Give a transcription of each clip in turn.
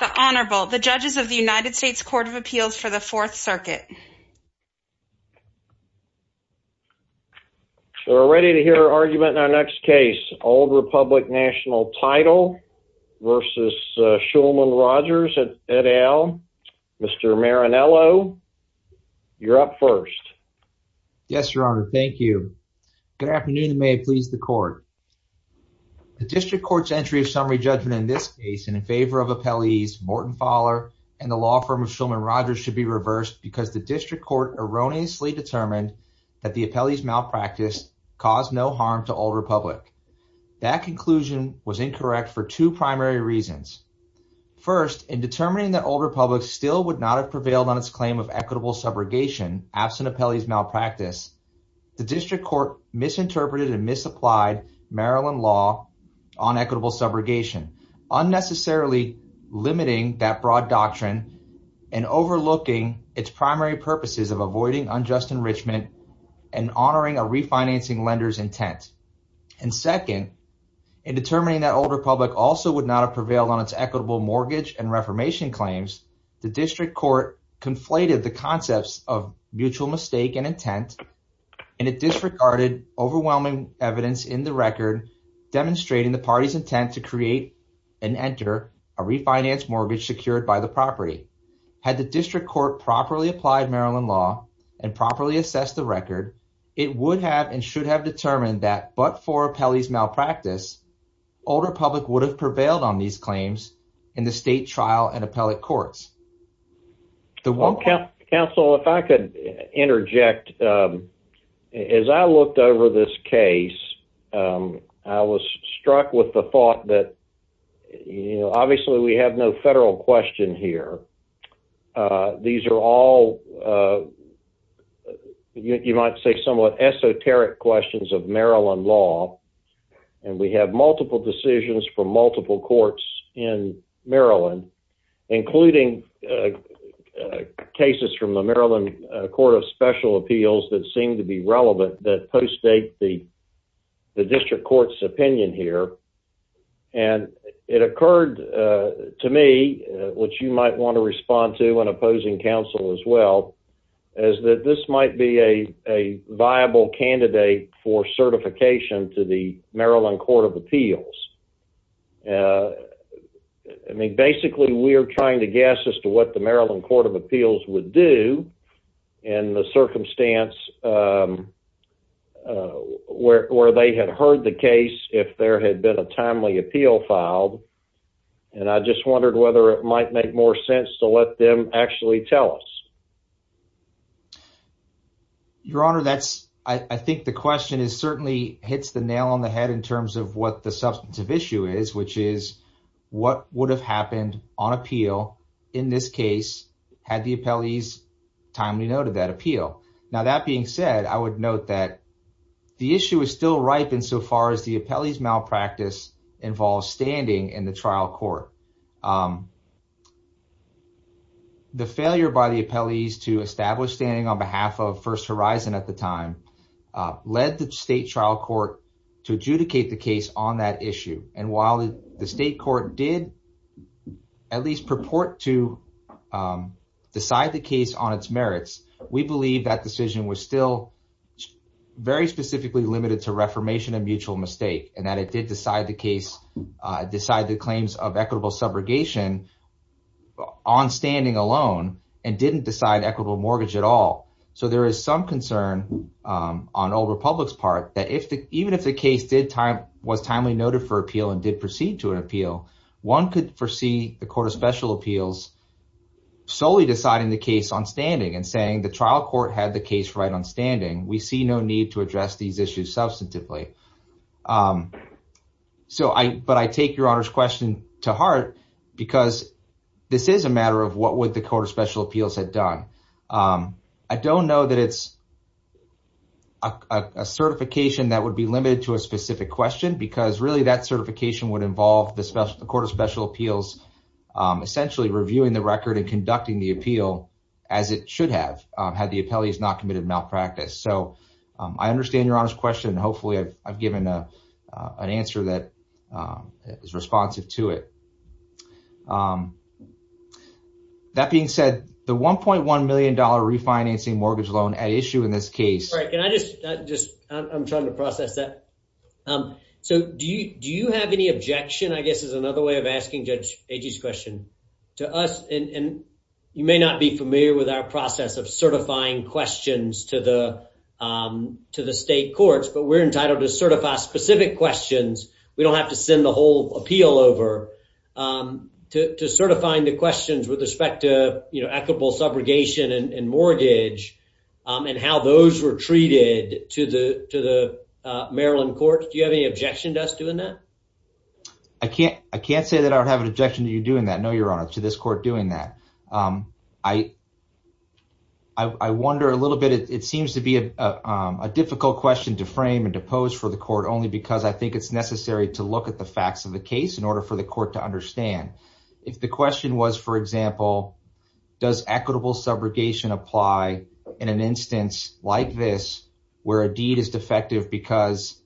The Honorable, the Judges of the United States Court of Appeals for the Fourth Circuit. So we're ready to hear our argument in our next case, Old Republic National Title v. Shulman, Rogers, Gandal, Mr. Marinello, you're up first. Yes, Your Honor, thank you. Good afternoon and may it please the Court. The District Court's entry of summary judgment in this case and in favor of appellees Morton Fowler and the law firm of Shulman, Rogers should be reversed because the District Court erroneously determined that the appellee's malpractice caused no harm to Old Republic. That conclusion was incorrect for two primary reasons. First, in determining that Old Republic still would not have prevailed on its claim of equitable subrogation absent appellee's malpractice, the District Court misinterpreted and misapplied Maryland law on equitable subrogation, unnecessarily limiting that broad doctrine and overlooking its primary purposes of avoiding unjust enrichment and honoring a refinancing lender's intent. And second, in determining that Old Republic also would not have prevailed on its equitable mortgage and reformation claims, the District Court conflated the concepts of mutual mistake and intent and it disregarded overwhelming evidence in the record demonstrating the party's intent to create and enter a refinance mortgage secured by the property. Had the District Court properly applied Maryland law and properly assessed the record, it would have and should have determined that, but for appellee's malpractice, Old Republic would have prevailed on these claims in the state trial and appellate courts. Well, counsel, if I could interject, as I looked over this case, I was struck with the thought that, you know, obviously we have no federal question here. These are all, you might say, somewhat esoteric questions of Maryland law, and we have multiple decisions from multiple courts in Maryland, including cases from the Maryland Court of Special Appeals that seem to be relevant that postdate the District Court's opinion here. And it occurred to me, which you might want to respond to in opposing counsel as well, is that this might be a viable candidate for certification to the Maryland Court of Appeals. I mean, basically, we're trying to guess as to what the Maryland Court of Appeals would do in the circumstance where they had heard the case if there had been a timely appeal filed, and I just wondered whether it might make more sense to let them actually tell us. Your Honor, I think the question certainly hits the nail on the head in terms of what the substantive issue is, which is what would have happened on appeal in this case had the appellees timely noted that appeal. Now, that being said, I would note that the issue is still ripe insofar as the appellee's malpractice involves standing in the trial court. The failure by the appellees to establish standing on behalf of First on that issue. And while the state court did at least purport to decide the case on its merits, we believe that decision was still very specifically limited to reformation of mutual mistake and that it did decide the claims of equitable subrogation on standing alone and didn't decide equitable mortgage at all. So there is some concern on Old Republic's part that even if the case did time was timely noted for appeal and did proceed to an appeal, one could foresee the Court of Special Appeals solely deciding the case on standing and saying the trial court had the case right on standing. We see no need to address these issues substantively. So I but I take your honor's question to heart because this is a matter of what would the Court of Special Appeals had done. I don't know that it's a certification that would be limited to a specific question because really that certification would involve the Court of Special Appeals essentially reviewing the record and conducting the appeal as it should have had the appellees not committed malpractice. So I understand your honor's question. Hopefully I've given an answer that is responsive to it. That being said, the $1.1 million refinancing mortgage loan at issue in this case. Can I just just I'm trying to process that. So do you do you have any objection? I guess is another way of asking Judge Agee's question to us. And you may not be familiar with our process of certifying questions to the to the state courts, but we're entitled to certify specific questions. We don't have to send the whole appeal over to certifying the questions with respect you know equitable subrogation and mortgage and how those were treated to the to the Maryland courts. Do you have any objection to us doing that? I can't I can't say that I don't have an objection to you doing that. No your honor to this court doing that. I I wonder a little bit. It seems to be a difficult question to frame and to pose for the court only because I think it's necessary to look at the facts of the case in order for the court to understand. If the question was for example does equitable subrogation apply in an instance like this where a deed is defective because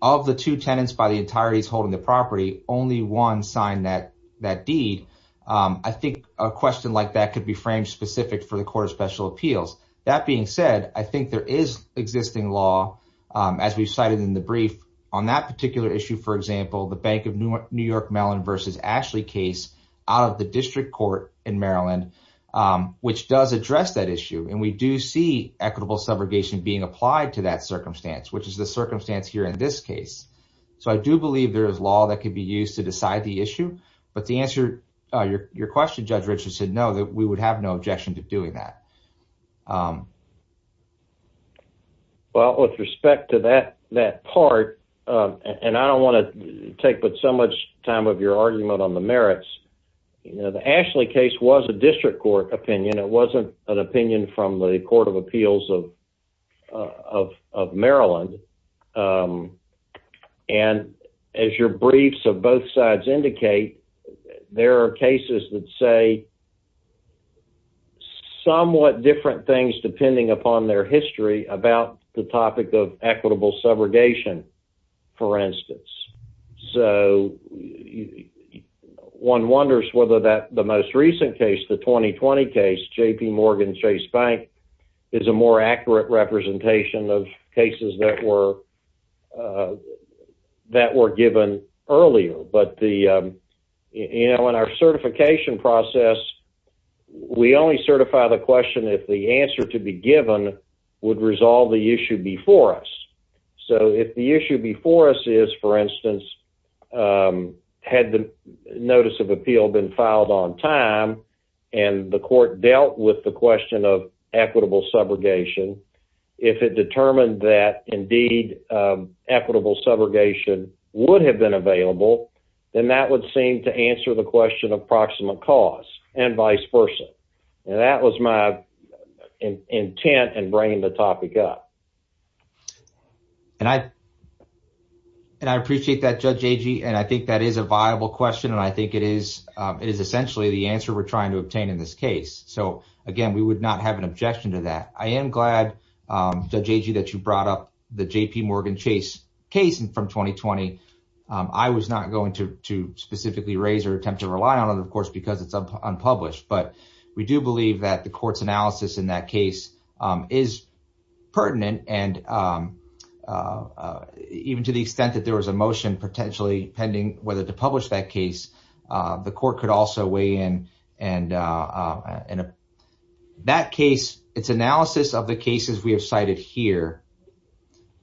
of the two tenants by the entirety is holding the property only one signed that that deed. I think a question like that could be framed specific for the court of special appeals. That being said I think there is existing law as we've cited in the brief on that particular issue for example the bank of New York Mellon versus Ashley case out of the district court in Maryland which does address that issue and we do see equitable subrogation being applied to that circumstance which is the circumstance here in this case. So I do believe there is law that could be used to decide the issue but the answer your question Judge Richard said no that we would have no objection to doing that. Well with respect to that that part and I don't want to take but so much time of your argument on the merits you know the Ashley case was a district court opinion it wasn't an opinion from the court of appeals of Maryland and as your briefs of both sides indicate there are cases that say somewhat different things depending upon their history about the topic of equitable subrogation for instance. So one wonders whether that the most recent case the 2020 case JPMorgan Chase Bank is a more accurate representation of cases that were that were given earlier but the you know in our certification process we only certify the question if the answer to be given would resolve the issue before us is for instance had the notice of appeal been filed on time and the court dealt with the question of equitable subrogation if it determined that indeed equitable subrogation would have been available then that would seem to answer the question of proximate cause and vice versa and that was my intent in bringing the topic up. And I and I appreciate that Judge Agee and I think that is a viable question and I think it is it is essentially the answer we're trying to obtain in this case so again we would not have an objection to that. I am glad Judge Agee that you brought up the JPMorgan Chase case and from 2020. I was not going to to specifically raise or attempt to rely on it of course because it's unpublished but we do believe that the court's analysis of that case is pertinent and even to the extent that there was a motion potentially pending whether to publish that case the court could also weigh in and that case its analysis of the cases we have cited here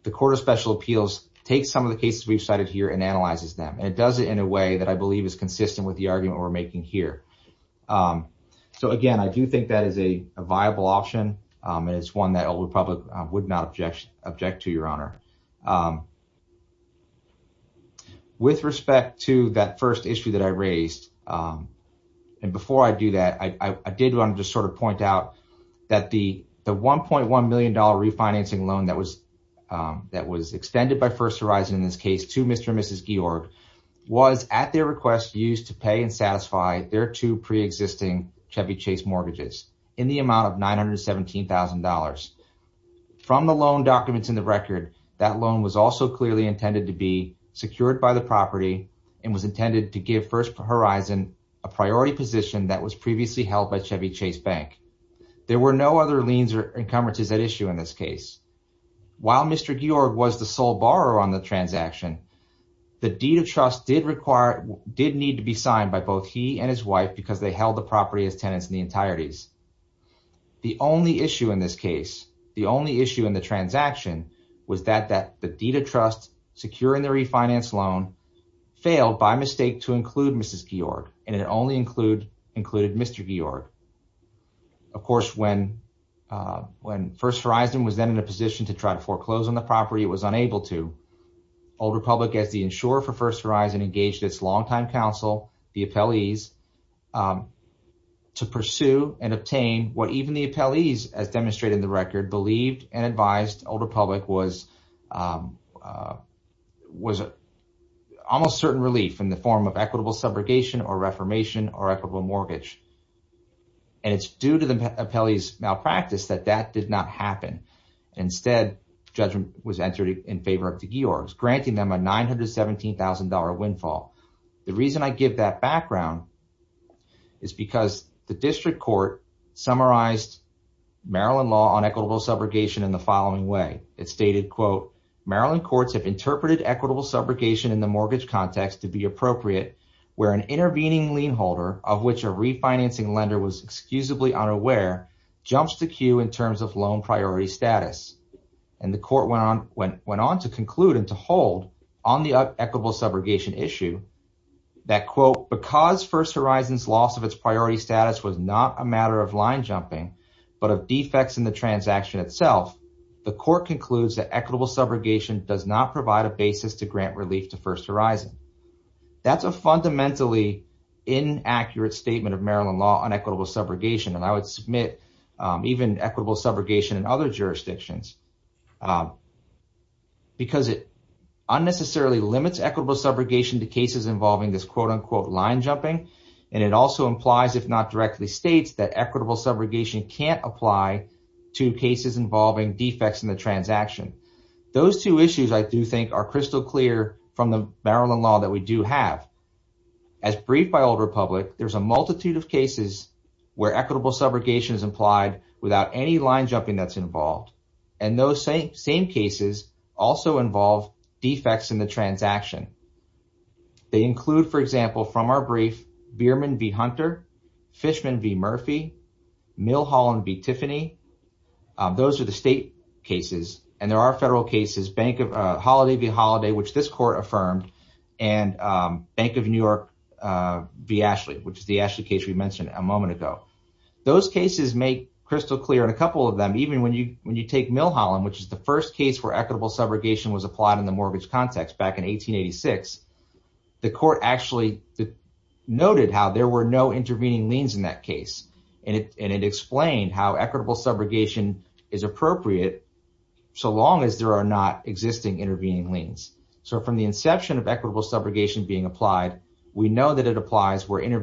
the court of special appeals takes some of the cases we've cited here and analyzes them and it does it in a way that I believe is consistent with the argument we're here. So again I do think that is a viable option and it's one that Old Republic would not object object to your honor. With respect to that first issue that I raised and before I do that I did want to just sort of point out that the the 1.1 million dollar refinancing loan that was that was extended by First Horizon in this case to Mr. and Mrs. Georg was at their request used to pay and satisfy their two pre-existing Chevy Chase mortgages in the amount of nine hundred seventeen thousand dollars. From the loan documents in the record that loan was also clearly intended to be secured by the property and was intended to give First Horizon a priority position that was previously held by Chevy Chase Bank. There were no other liens or encumbrances at issue in this case. While Mr. Georg was the sole borrower on the transaction the deed of did need to be signed by both he and his wife because they held the property as tenants in the entireties. The only issue in this case the only issue in the transaction was that that the deed of trust securing the refinance loan failed by mistake to include Mrs. Georg and it only include included Mr. Georg. Of course when when First Horizon was then in a position to try to foreclose on the property it was unable to. Old Republic as the insurer for First Horizon's longtime counsel the appellees to pursue and obtain what even the appellees as demonstrated in the record believed and advised Old Republic was was almost certain relief in the form of equitable subrogation or reformation or equitable mortgage. And it's due to the appellees malpractice that that did not happen. Instead judgment was entered in favor of the Georg's granting them a $917,000 windfall. The reason I give that background is because the district court summarized Maryland law on equitable subrogation in the following way. It stated quote Maryland courts have interpreted equitable subrogation in the mortgage context to be appropriate where an intervening lien holder of which a refinancing lender was excusably unaware jumps the queue in terms of equitable subrogation issue that quote because First Horizon's loss of its priority status was not a matter of line jumping but of defects in the transaction itself the court concludes that equitable subrogation does not provide a basis to grant relief to First Horizon. That's a fundamentally inaccurate statement of Maryland law on equitable subrogation. And I would submit even equitable subrogation in other jurisdictions um because it unnecessarily limits equitable subrogation to cases involving this quote unquote line jumping and it also implies if not directly states that equitable subrogation can't apply to cases involving defects in the transaction. Those two issues I do think are crystal clear from the Maryland law that we do have. As briefed by Old Republic there's a multitude of cases where equitable subrogation is implied without any line jumping that's involved. And those same cases also involve defects in the transaction. They include for example from our brief Behrman v. Hunter, Fishman v. Murphy, Millholland v. Tiffany. Those are the state cases and there are federal cases Bank of uh Holiday v. Holiday which this court affirmed and Bank of New York v. Ashley which is the Ashley case we mentioned a moment ago. Those cases make crystal clear in a couple of them even when you when you take Millholland which is the first case where equitable subrogation was applied in the mortgage context back in 1886. The court actually noted how there were no intervening liens in that case and it and it explained how equitable subrogation is appropriate so long as there are not existing intervening liens. So from the inception of equitable subrogation being applied we know that it applies where in the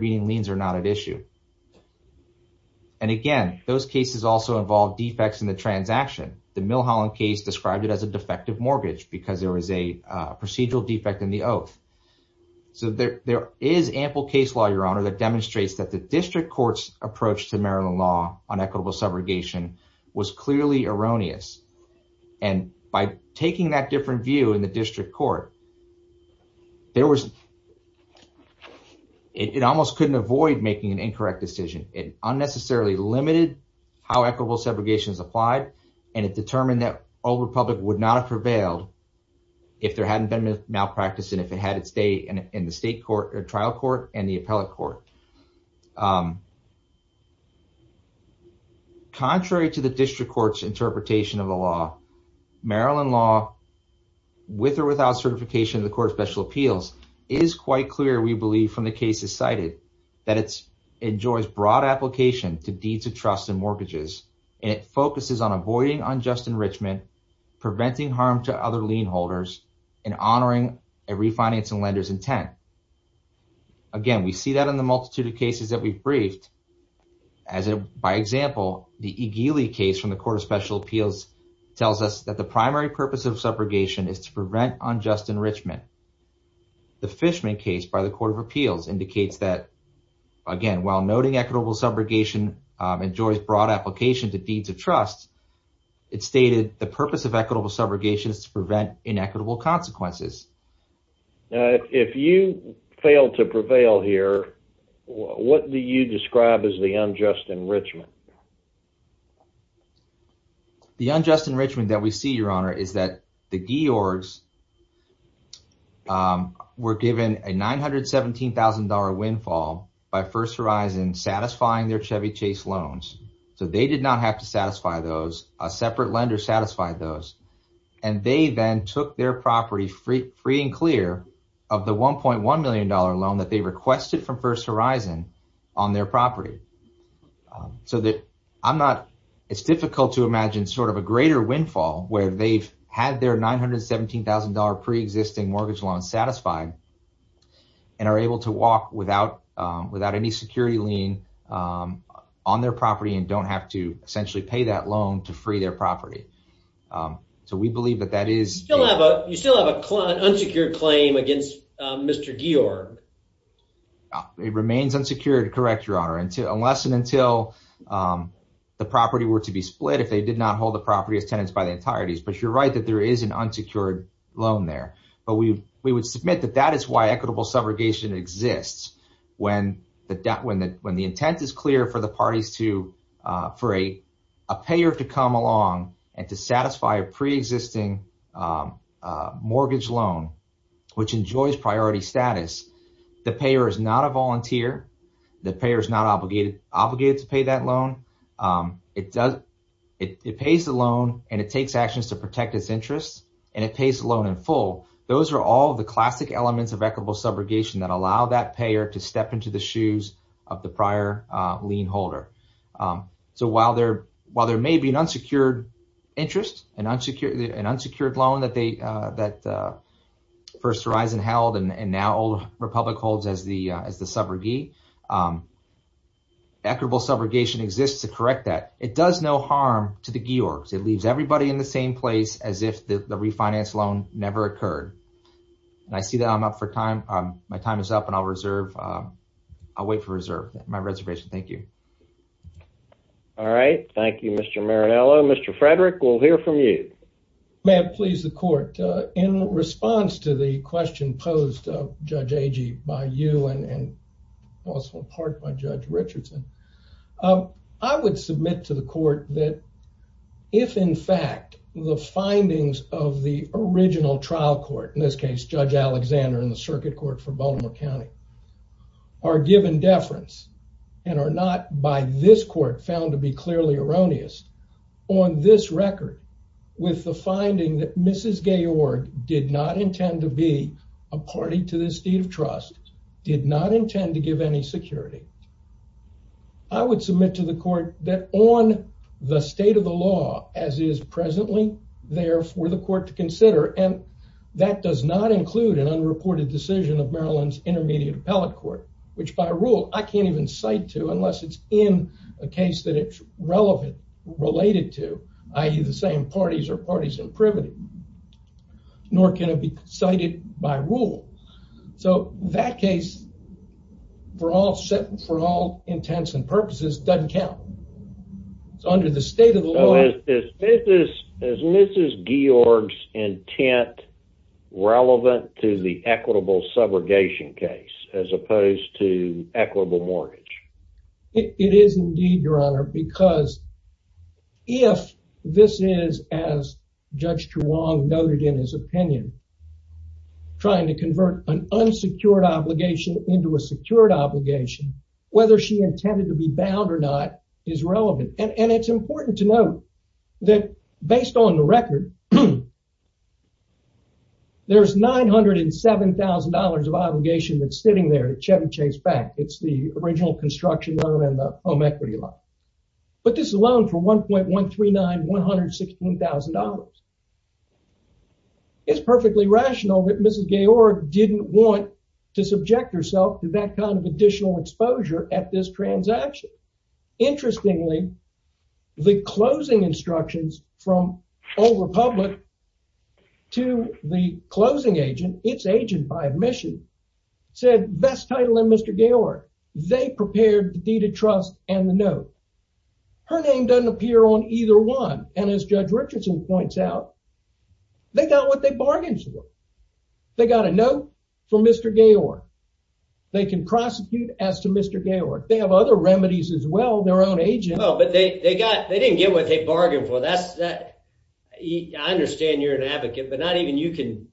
transaction. The Millholland case described it as a defective mortgage because there was a procedural defect in the oath. So there is ample case law your honor that demonstrates that the district court's approach to Maryland law on equitable subrogation was clearly erroneous and by taking that different view in the district court there was it almost couldn't avoid making an applied and it determined that Old Republic would not have prevailed if there hadn't been a malpractice and if it had its day in the state court or trial court and the appellate court. Contrary to the district court's interpretation of the law, Maryland law with or without certification of the court of special appeals is quite clear we believe from the cases cited that it enjoys broad application to deeds of mortgages and it focuses on avoiding unjust enrichment preventing harm to other lien holders and honoring a refinancing lender's intent. Again we see that in the multitude of cases that we've briefed as a by example the Egele case from the court of special appeals tells us that the primary purpose of subrogation is to prevent unjust enrichment. The Fishman case by the court of appeals indicates that again while noting equitable subrogation enjoys broad application to deeds of trust it stated the purpose of equitable subrogation is to prevent inequitable consequences. If you fail to prevail here what do you describe as the unjust enrichment? The unjust enrichment that we see your honor is that the Georgs um were given a $917,000 windfall by first horizon satisfying their Chevy chase loans so they did not have to satisfy those a separate lender satisfied those and they then took their property free free and clear of the 1.1 million dollar loan that they requested from first horizon on their property. So that I'm not it's difficult to imagine sort of a greater windfall where they've had their $917,000 pre-existing mortgage loan satisfied and are able to walk without without any security lien on their property and don't have to essentially pay that loan to free their property. So we believe that that is you still have a client unsecured claim against Mr. Georg. It remains unsecured correct your honor until unless and until the property were to be split if they did not hold the property as tenants by the entireties but you're right that there is an unsecured loan there but we we would submit that that is why equitable subrogation exists when the debt when the when the intent is clear for the parties to for a a payer to come along and to satisfy a pre-existing mortgage loan which enjoys priority status the payer is not a volunteer the payer is not obligated obligated to pay that loan it does it it pays the loan and it takes actions to protect its interests and it pays the loan in full those are all the classic elements of equitable subrogation that allow that payer to step into the shoes of the prior lien holder. So while there while there may be an unsecured interest an unsecured an unsecured loan that they that first horizon held and now republic holds as the as the subrogate equitable subrogation exists to correct that it does no harm to the georgs it leaves everybody in the same place as if the refinance loan never occurred and I see that I'm up for time my time is up and I'll reserve I'll wait for reserve my reservation thank you. All right thank you Mr. Marinello. Mr. Frederick we'll hear from you. May it please the court in response to the question posed of Judge Agee by you and and also in part by Judge Richardson I would submit to the court that if in fact the findings of the original trial court in this case Judge Alexander in the circuit court for Baltimore County are given deference and are not by this court found to be clearly erroneous on this record with the finding that Mrs. Georg did not intend to be a party to this deed of trust did not intend to give any security I would submit to the court that on the state of the law as is presently there for the court to consider and that does not include an unreported decision of Maryland's intermediate appellate which by rule I can't even cite to unless it's in a case that it's relevant related to i.e. the same parties or parties in privity nor can it be cited by rule so that case for all set for all intents and purposes doesn't count it's under the state of the law is this as Mrs. Georg's intent relevant to the equitable subrogation case as opposed to equitable mortgage it is indeed your honor because if this is as Judge Chuang noted in his opinion trying to convert an unsecured obligation into a secured obligation whether she intended to be bound or not is relevant and it's important to note that based on the record there's nine hundred and seven thousand dollars of obligation that's sitting there at Chevy Chase Bank it's the original construction loan and the home equity loan but this alone for 1.139 116 thousand dollars it's perfectly rational that Mrs. Georg didn't want to subject herself to that kind of additional exposure at this transaction interestingly the closing instructions from Old Republic to the closing agent its agent by admission said best title in Mr. Georg they prepared the deed of trust and the note her name doesn't appear on either one and as Judge Richardson points out they got what they bargained for they got a note from Mr. Georg they can prosecute as to Mr. Georg they have other remedies as well their own agent well but they they got they didn't get what they bargained for that's that I understand you're an advocate but not even you can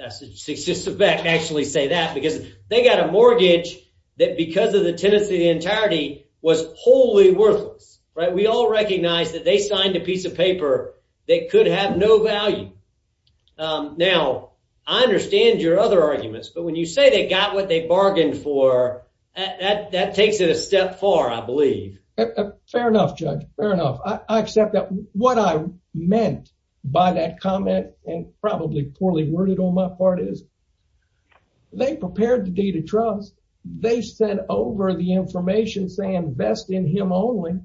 actually say that because they got a mortgage that because of the tenancy of the entirety was wholly worthless right we all recognize that they signed a piece of paper that could have no value now I understand your other arguments but when you say they got what they bargained for that that takes it a step far I believe fair enough judge fair enough I accept that what I meant by that comment and probably poorly worded on my part is they prepared the deed of trust they sent over the information saying best in him only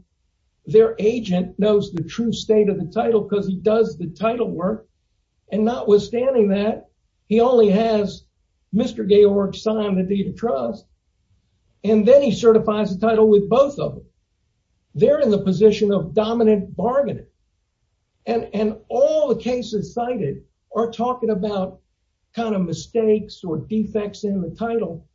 their agent knows the true state of the title because he does the title work and notwithstanding that he only has Mr. Georg signed the deed of trust and then he certifies the title with both of them they're in the position of dominant bargaining and and all cases cited are talking about kind of mistakes or defects in the title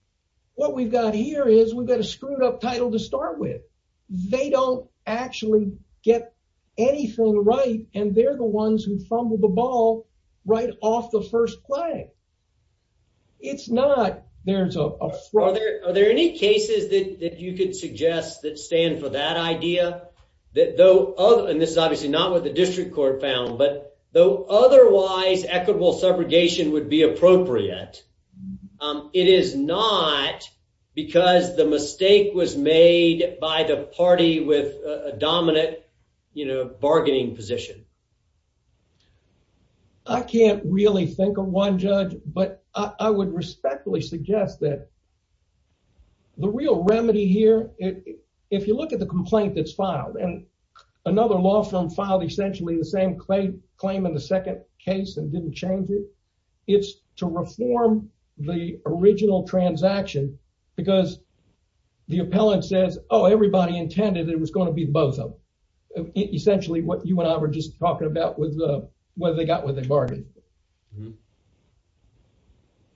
what we've got here is we've got a screwed up title to start with they don't actually get anything right and they're the ones who fumbled the ball right off the first play it's not there's a are there are there any cases that that you could suggest that stand for that idea that though oh and this is obviously not what the district court found but though otherwise equitable segregation would be appropriate it is not because the mistake was made by the party with a dominant you know bargaining position I can't really think of one judge but I would respectfully suggest that the real remedy here it if you look at the complaint that's filed and another law firm filed essentially the same claim claim in the second case and didn't change it it's to reform the original transaction because the appellant says oh everybody intended it was going to be both of them essentially what you and I were just talking about with the they got what they bargained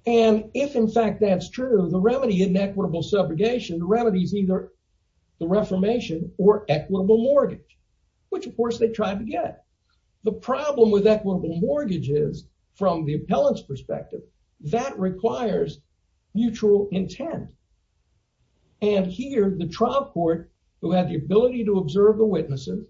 and if in fact that's true the remedy in equitable segregation the remedy is either the reformation or equitable mortgage which of course they tried to get the problem with equitable mortgages from the appellant's perspective that requires mutual intent and here the trial court who had the ability to observe the witnesses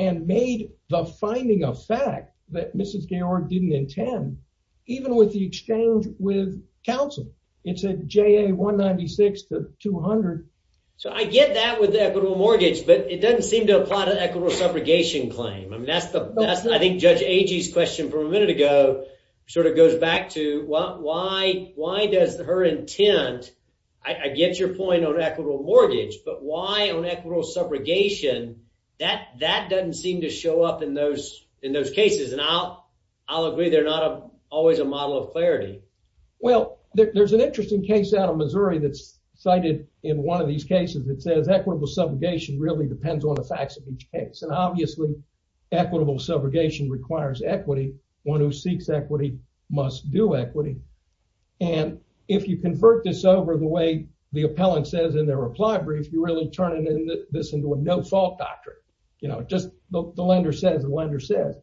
and made the finding of fact that Mrs. Georg didn't intend even with the exchange with counsel it said ja 196 to 200. So I get that with the equitable mortgage but it doesn't seem to apply to the equitable subrogation claim I mean that's the that's I think Judge Agee's question from a minute ago sort of goes back to why why does her intent I get your point on subrogation that that doesn't seem to show up in those in those cases and I'll I'll agree they're not always a model of clarity. Well there's an interesting case out of Missouri that's cited in one of these cases that says equitable subrogation really depends on the facts of each case and obviously equitable subrogation requires equity one who seeks equity must do equity and if you convert this over the way the appellant says in their reply brief you really turn it in this into a no-fault doctrine you know just the lender says the lender says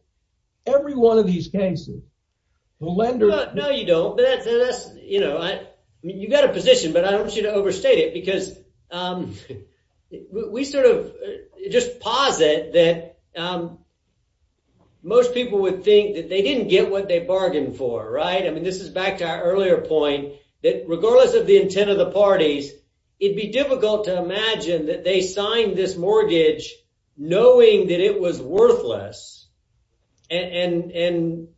every one of these cases the lender no you don't but that's you know I mean you've got a position but I don't want you to overstate it because we sort of just posit that most people would think that they didn't get what they bargained for right I mean this is back to our earlier point that it'd be difficult to imagine that they signed this mortgage knowing that it was worthless and and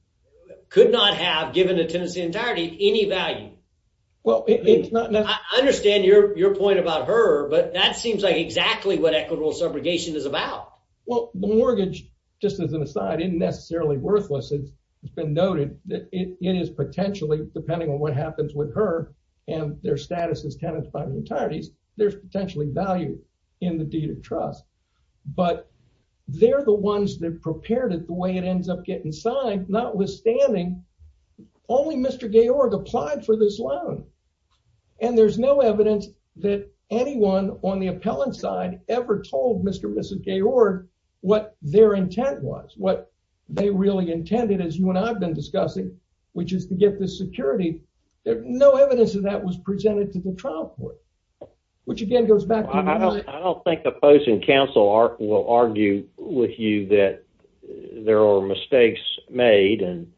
could not have given the tenancy entirety any value well it's not I understand your your point about her but that seems like exactly what equitable subrogation is about well the mortgage just as an aside isn't necessarily worthless it's been noted that it is potentially depending on what happens with her and their status as tenants by the entireties there's potentially value in the deed of trust but they're the ones that prepared it the way it ends up getting signed notwithstanding only Mr. Georg applied for this loan and there's no evidence that anyone on the appellant side ever told Mr. Mrs. Georg what their intent was what they really intended as you and I've been discussing which is to get the security there no evidence of that was presented to the trial court which again goes back I don't I don't think the opposing counsel will argue with you that there are mistakes made and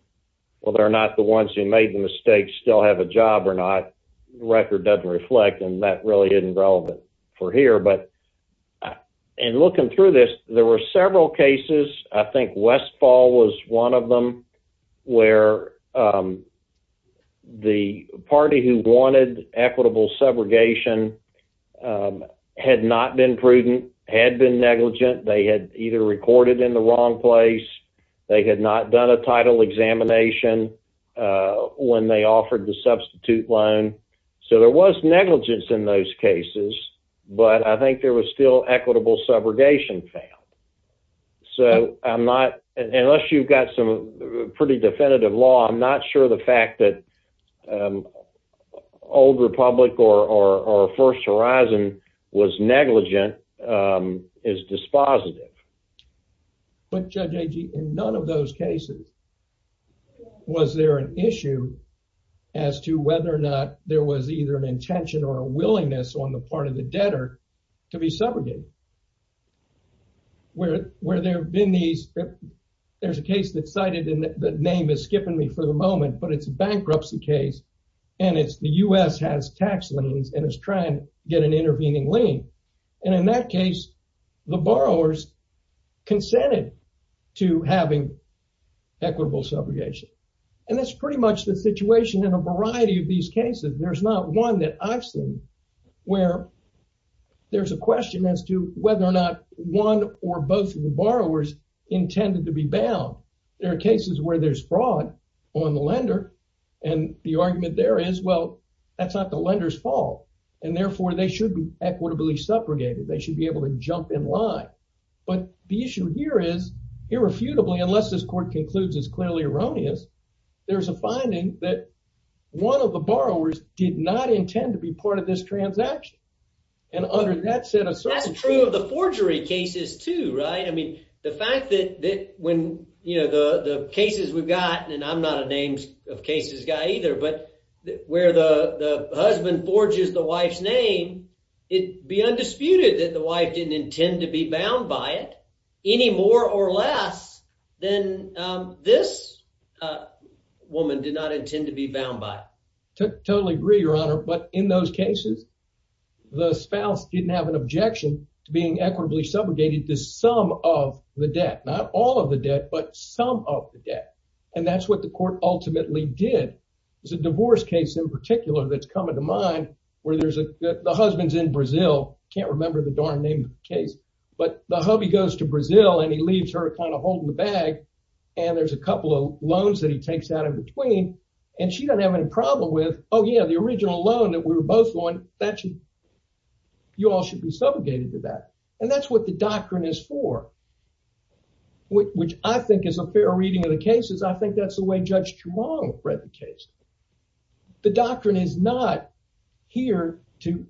well they're not the ones who made the mistakes still have a job or not the record doesn't reflect and that really isn't relevant for here but and looking through this there were several cases I think Westfall was one of them where the party who wanted equitable subrogation had not been prudent had been negligent they had either recorded in the wrong place they had not done a title examination when they offered the substitute loan so there was negligence in those cases but I think there was still equitable subrogation failed so I'm not unless you've got some pretty definitive law I'm not sure the fact that old republic or or first horizon was negligent is dispositive but Judge Agee in none of those cases was there an issue as to whether or not there was either an intention or a willingness on the part of the debtor to be subrogated where where there have been these there's a case that's cited in the name is skipping me for the moment but it's a bankruptcy case and it's the U.S. has tax liens and it's trying to get an intervening lien and in that case the borrowers consented to having equitable subrogation and that's pretty much the situation in a variety of these cases there's not one that I've seen where there's a question as to whether or not one or both of the borrowers intended to be bound there are cases where there's fraud on the lender and the argument there is well that's not the lender's fault and therefore they should be equitably subrogated they should be able to jump in line but the issue here is irrefutably unless this court concludes it's clearly erroneous there's a finding that one of the borrowers did not intend to be part of this transaction and under that set of circumstances that's true of the forgery cases too right I mean the fact that that when you know the the cases we've got and I'm not a names of cases guy either but where the the husband forges the wife's name it'd be undisputed that the wife didn't intend to be bound by it any more or less than this woman did not intend to be bound by it totally agree your honor but in those cases the spouse didn't have an objection to being equitably subrogated to some of the debt not all of the debt but some of the debt and that's what the court ultimately did there's a divorce case in particular that's coming to mind where there's a the husband's in Brazil can't remember the darn name of the case but the hubby goes to Brazil and he leaves her kind of holding the bag and there's a couple of loans that he takes out in between and she doesn't have any problem with oh yeah the original loan that we were both going that should you all should be subrogated to that and that's what the doctrine is for which I think is a fair reading of the cases I think that's the way Judge Chuang read the case the doctrine is not here to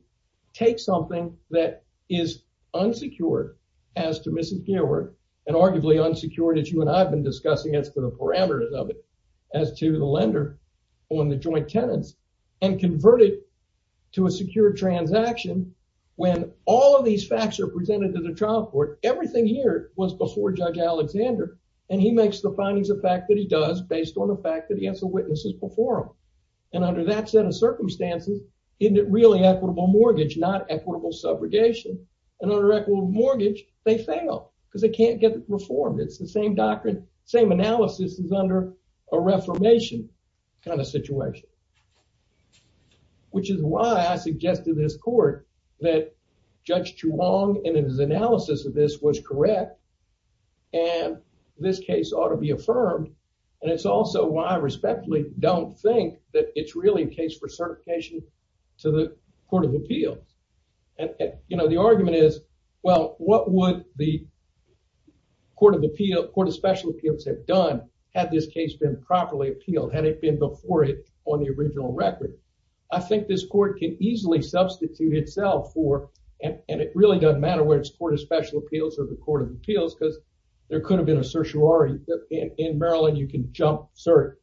take something that is unsecured as to Mrs. Gilbert and arguably unsecured as you and I've been discussing as to the parameters of it as to the lender on the joint tenants and convert it to a secure transaction when all of these facts are presented to the trial court everything here was before Judge Alexander and he makes the findings of fact that he does based on the fact that he has the witnesses before him and under that set of circumstances isn't it really equitable mortgage not equitable subrogation and under equitable mortgage they fail because they can't get reformed it's the same doctrine same analysis is under a reformation kind of situation which is why I suggested this that Judge Chuang and his analysis of this was correct and this case ought to be affirmed and it's also why I respectfully don't think that it's really a case for certification to the Court of Appeals and you know the argument is well what would the Court of Appeals Court of Special Appeals have done had this case been properly appealed had it been before it on the original record I think this court can easily substitute itself for and it really doesn't matter where it's Court of Special Appeals or the Court of Appeals because there could have been a certiorari in Maryland you can jump cert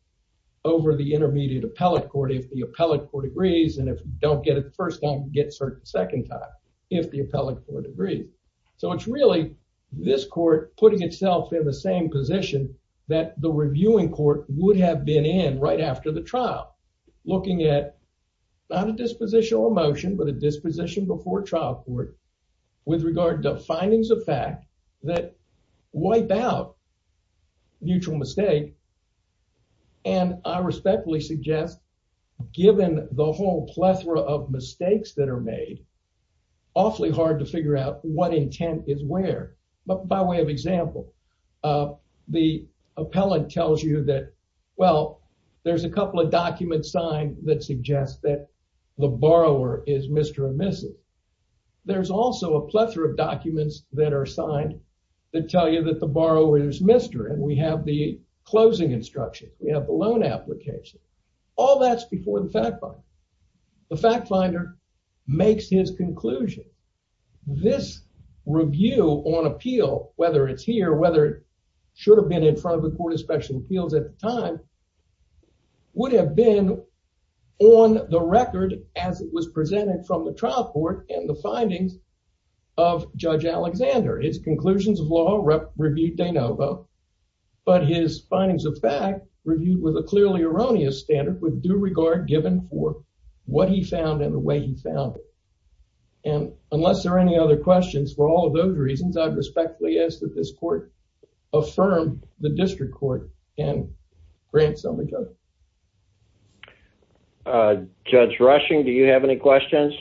over the intermediate appellate court if the appellate court agrees and if you don't get it the first time you get cert the second time if the appellate court agrees so it's really this court putting itself in the same position that the reviewing court would have been right after the trial looking at not a disposition or motion but a disposition before trial court with regard to findings of fact that wipe out mutual mistake and I respectfully suggest given the whole plethora of mistakes that are made awfully hard to figure out what intent is where but by way of example the appellant tells you that well there's a couple of documents signed that suggest that the borrower is Mr. and Mrs. there's also a plethora of documents that are signed that tell you that the borrower is Mr. and we have the closing instruction we have the loan application all that's before the fact finder the fact finder makes his conclusion this review on appeal whether it's here whether it should have been in front of the court of special appeals at the time would have been on the record as it was presented from the trial court and the findings of Judge Alexander his conclusions of law review de novo but his findings of fact reviewed with a clearly erroneous standard with due regard given for what he found and the way he found it and unless there are any other questions for all of those reasons I respectfully ask that this court affirm the district court and grant somebody judge uh judge rushing do you have any questions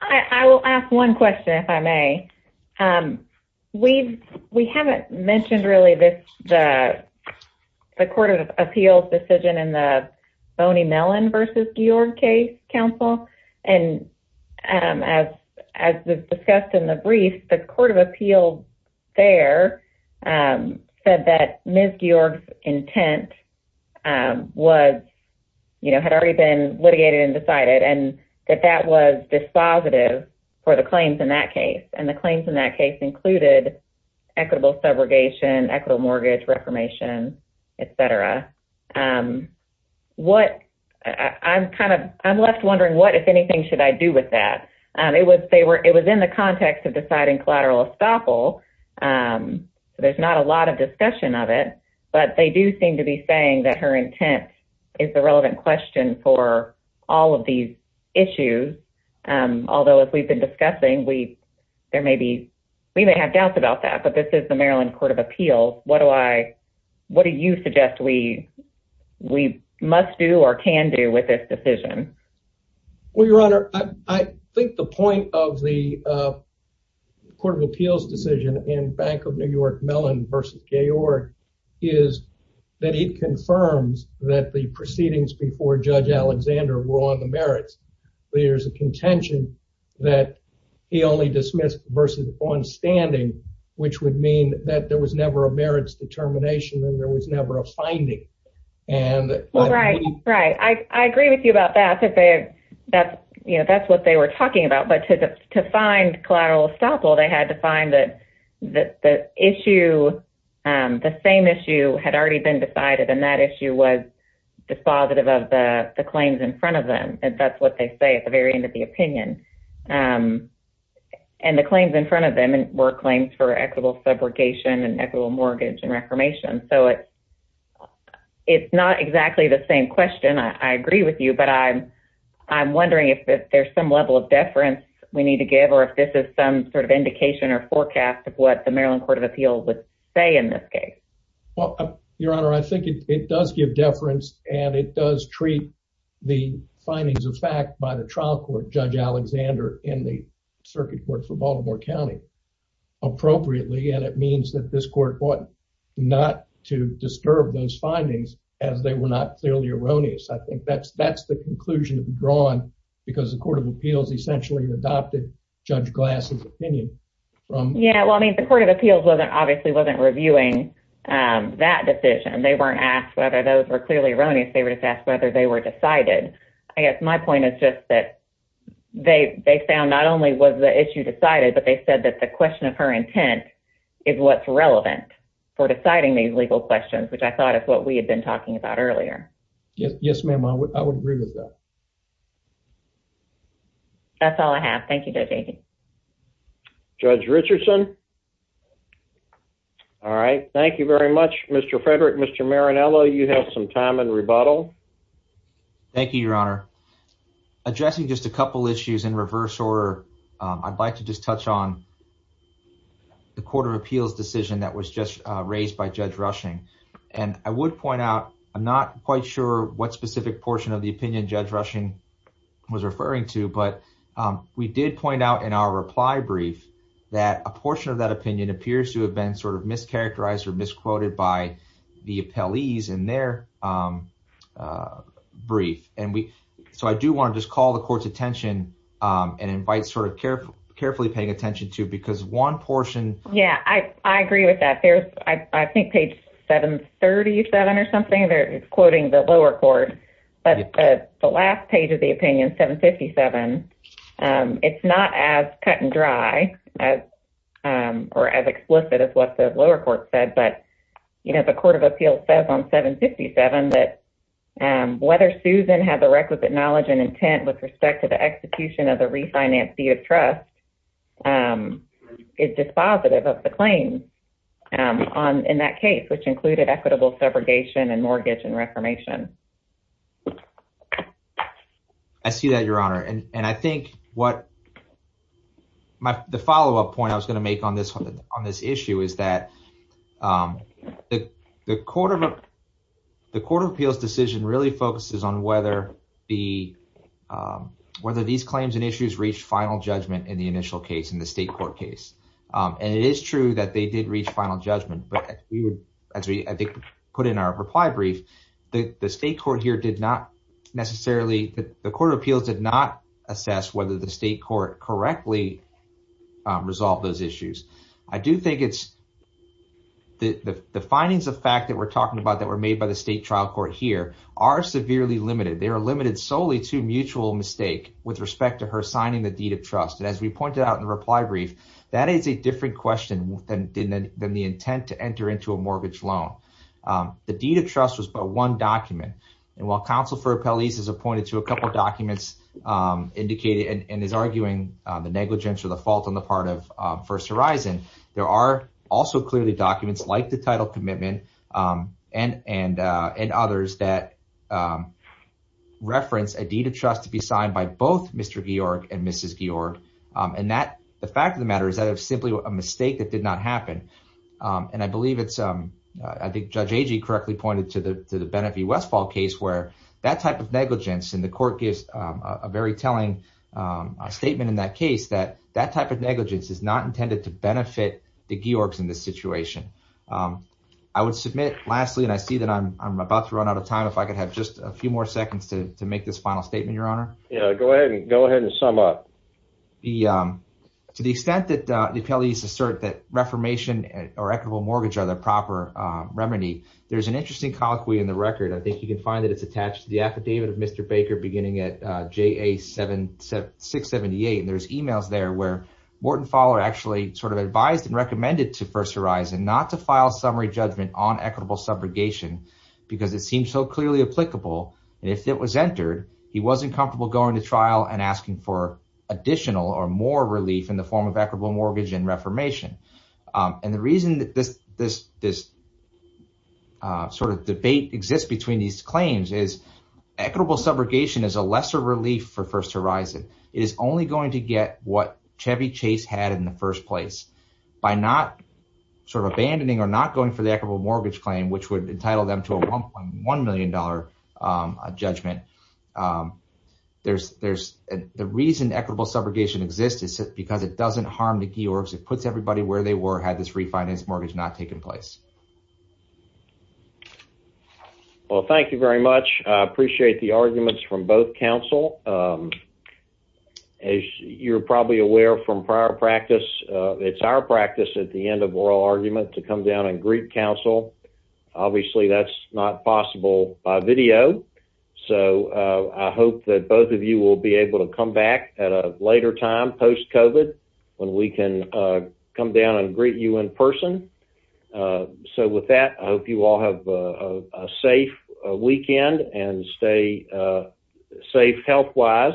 I I will ask one question if I may um we've we haven't mentioned really this the the court of appeals decision in the boney mellon versus georg case council and um as as discussed in the brief the court of appeals there um said that ms georg's intent um was you know had already been litigated and decided and that that was dispositive for the claims in that case and the claims in that case included equitable subrogation equitable mortgage reformation etc um what I'm kind of I'm left wondering what if anything should I do with that um it was they were it was in the context of deciding collateral estoppel um so there's not a lot of discussion of it but they do seem to be saying that her intent is the relevant question for all of these issues um although as we've been discussing we there may be we may have doubts about that but this is the maryland court of appeals what do I what do you suggest we we must do or can do with this decision well your honor I think the point of the uh court of appeals decision in bank of new york mellon versus georg is that it confirms that the proceedings before judge alexander were on the merits there's a contention that he only dismissed versus on standing which would mean that there was never a merits determination and there was never a finding and right right I I agree with you about that that they that's you know that's what they were talking about but to find collateral estoppel they had to find that that the issue um the same issue had already been decided and that issue was dispositive of the the claims in front of them and that's what they say at the very end of the opinion um and the claims in front of them were claims for equitable subrogation and equitable mortgage and reformation so it it's not exactly the same question I agree with you but I'm I'm wondering if there's some level of deference we need to give or if this is some sort of indication or forecast of what the maryland court of appeals would say in this case well your honor I think it does give deference and it does treat the findings of fact by the trial court judge alexander in the circuit court for baltimore county appropriately and it means that this court ought not to disturb those findings as they were not clearly erroneous I think that's that's the conclusion to be drawn because the court of appeals essentially adopted judge glass's opinion from yeah well I mean the appeals wasn't obviously wasn't reviewing um that decision they weren't asked whether those were clearly erroneous they were just asked whether they were decided I guess my point is just that they they found not only was the issue decided but they said that the question of her intent is what's relevant for deciding these legal questions which I thought is what we had been talking about earlier yes ma'am I would agree with that that's all I have thank you judge jd judge richardson all right thank you very much mr frederick mr marinello you have some time and rebuttal thank you your honor addressing just a couple issues in reverse order um I'd like to just touch on the court of appeals decision that was just uh raised by judge rushing and I would point out I'm not quite sure what specific portion of the opinion judge rushing was referring to but we did point out in our reply brief that a portion of that opinion appears to have been sort of mischaracterized or misquoted by the appellees in their um uh brief and we so I do want to just call the court's attention um and invite sort of care carefully paying attention to because one portion yeah I agree with that there's I think page 737 or something they're quoting the lower court but the last page of the opinion 757 um it's not as cut and dry as um or as explicit as what the lower court said but you know the court of appeals says on 757 that um whether susan had the requisite knowledge and intent with respect to the execution of the trust um is dispositive of the claim um on in that case which included equitable segregation and mortgage and reformation I see that your honor and and I think what my the follow-up point I was going to make on this on this issue is that um the the court of the court of appeals decision really focuses on whether the um whether these claims and issues reached final judgment in the initial case in the state court case um and it is true that they did reach final judgment but we would as we put in our reply brief the the state court here did not necessarily the court of appeals did not assess whether the state court correctly resolved those issues I do think it's the the findings of fact that we're talking about that were made by the state trial court here are severely limited they are limited solely to mutual mistake with respect to her signing the deed of trust and as we pointed out in the reply brief that is a different question than didn't than the intent to enter into a mortgage loan um the deed of trust was but one document and while counsel for appellees is appointed to a couple documents um indicated and is arguing the negligence or the fault on the part of first horizon there are also clearly documents like the title commitment um and and uh and others that um reference a deed of trust to be signed by both mr georg and mrs georg um and that the fact of the matter is that of simply a mistake that did not happen um and i believe it's um i think judge agee correctly pointed to the to the benefit westfall case where that type of negligence and court gives a very telling um a statement in that case that that type of negligence is not intended to benefit the georgs in this situation um i would submit lastly and i see that i'm i'm about to run out of time if i could have just a few more seconds to to make this final statement your honor yeah go ahead and go ahead and sum up the um to the extent that the appellees assert that reformation or equitable mortgage are the proper uh remedy there's an interesting colloquy in the record i think you can find that it's attached to the affidavit of mr baker beginning at uh ja 7 7 678 and there's emails there where morton faller actually sort of advised and recommended to first horizon not to file summary judgment on equitable subrogation because it seems so clearly applicable and if it was entered he wasn't comfortable going to trial and asking for additional or more relief in the form of equitable mortgage and reformation and the reason that this this this uh sort of debate exists between these claims is equitable subrogation is a lesser relief for first horizon it is only going to get what chevy chase had in the first place by not sort of abandoning or not going for the equitable mortgage claim which would entitle them to a 1.1 million dollar um judgment um there's there's the reason equitable subrogation exists is because it doesn't harm the george's it puts everybody where they were had this refinance mortgage not taken place well thank you very much i appreciate the arguments from both council um as you're probably aware from prior practice it's our practice at the end of oral argument to come down and greet council obviously that's not possible by video so i hope that both of you will be able to come back at a later time post covid when we can uh come down and greet you in person uh so with that i hope you all have a safe weekend and stay uh safe health wise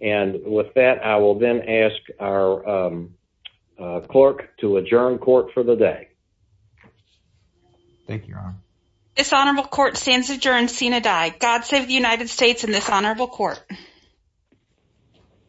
and with that i will then ask our um clerk to adjourn court for the day thank you this honorable court stands adjourned sena die god save the united states in this honorable court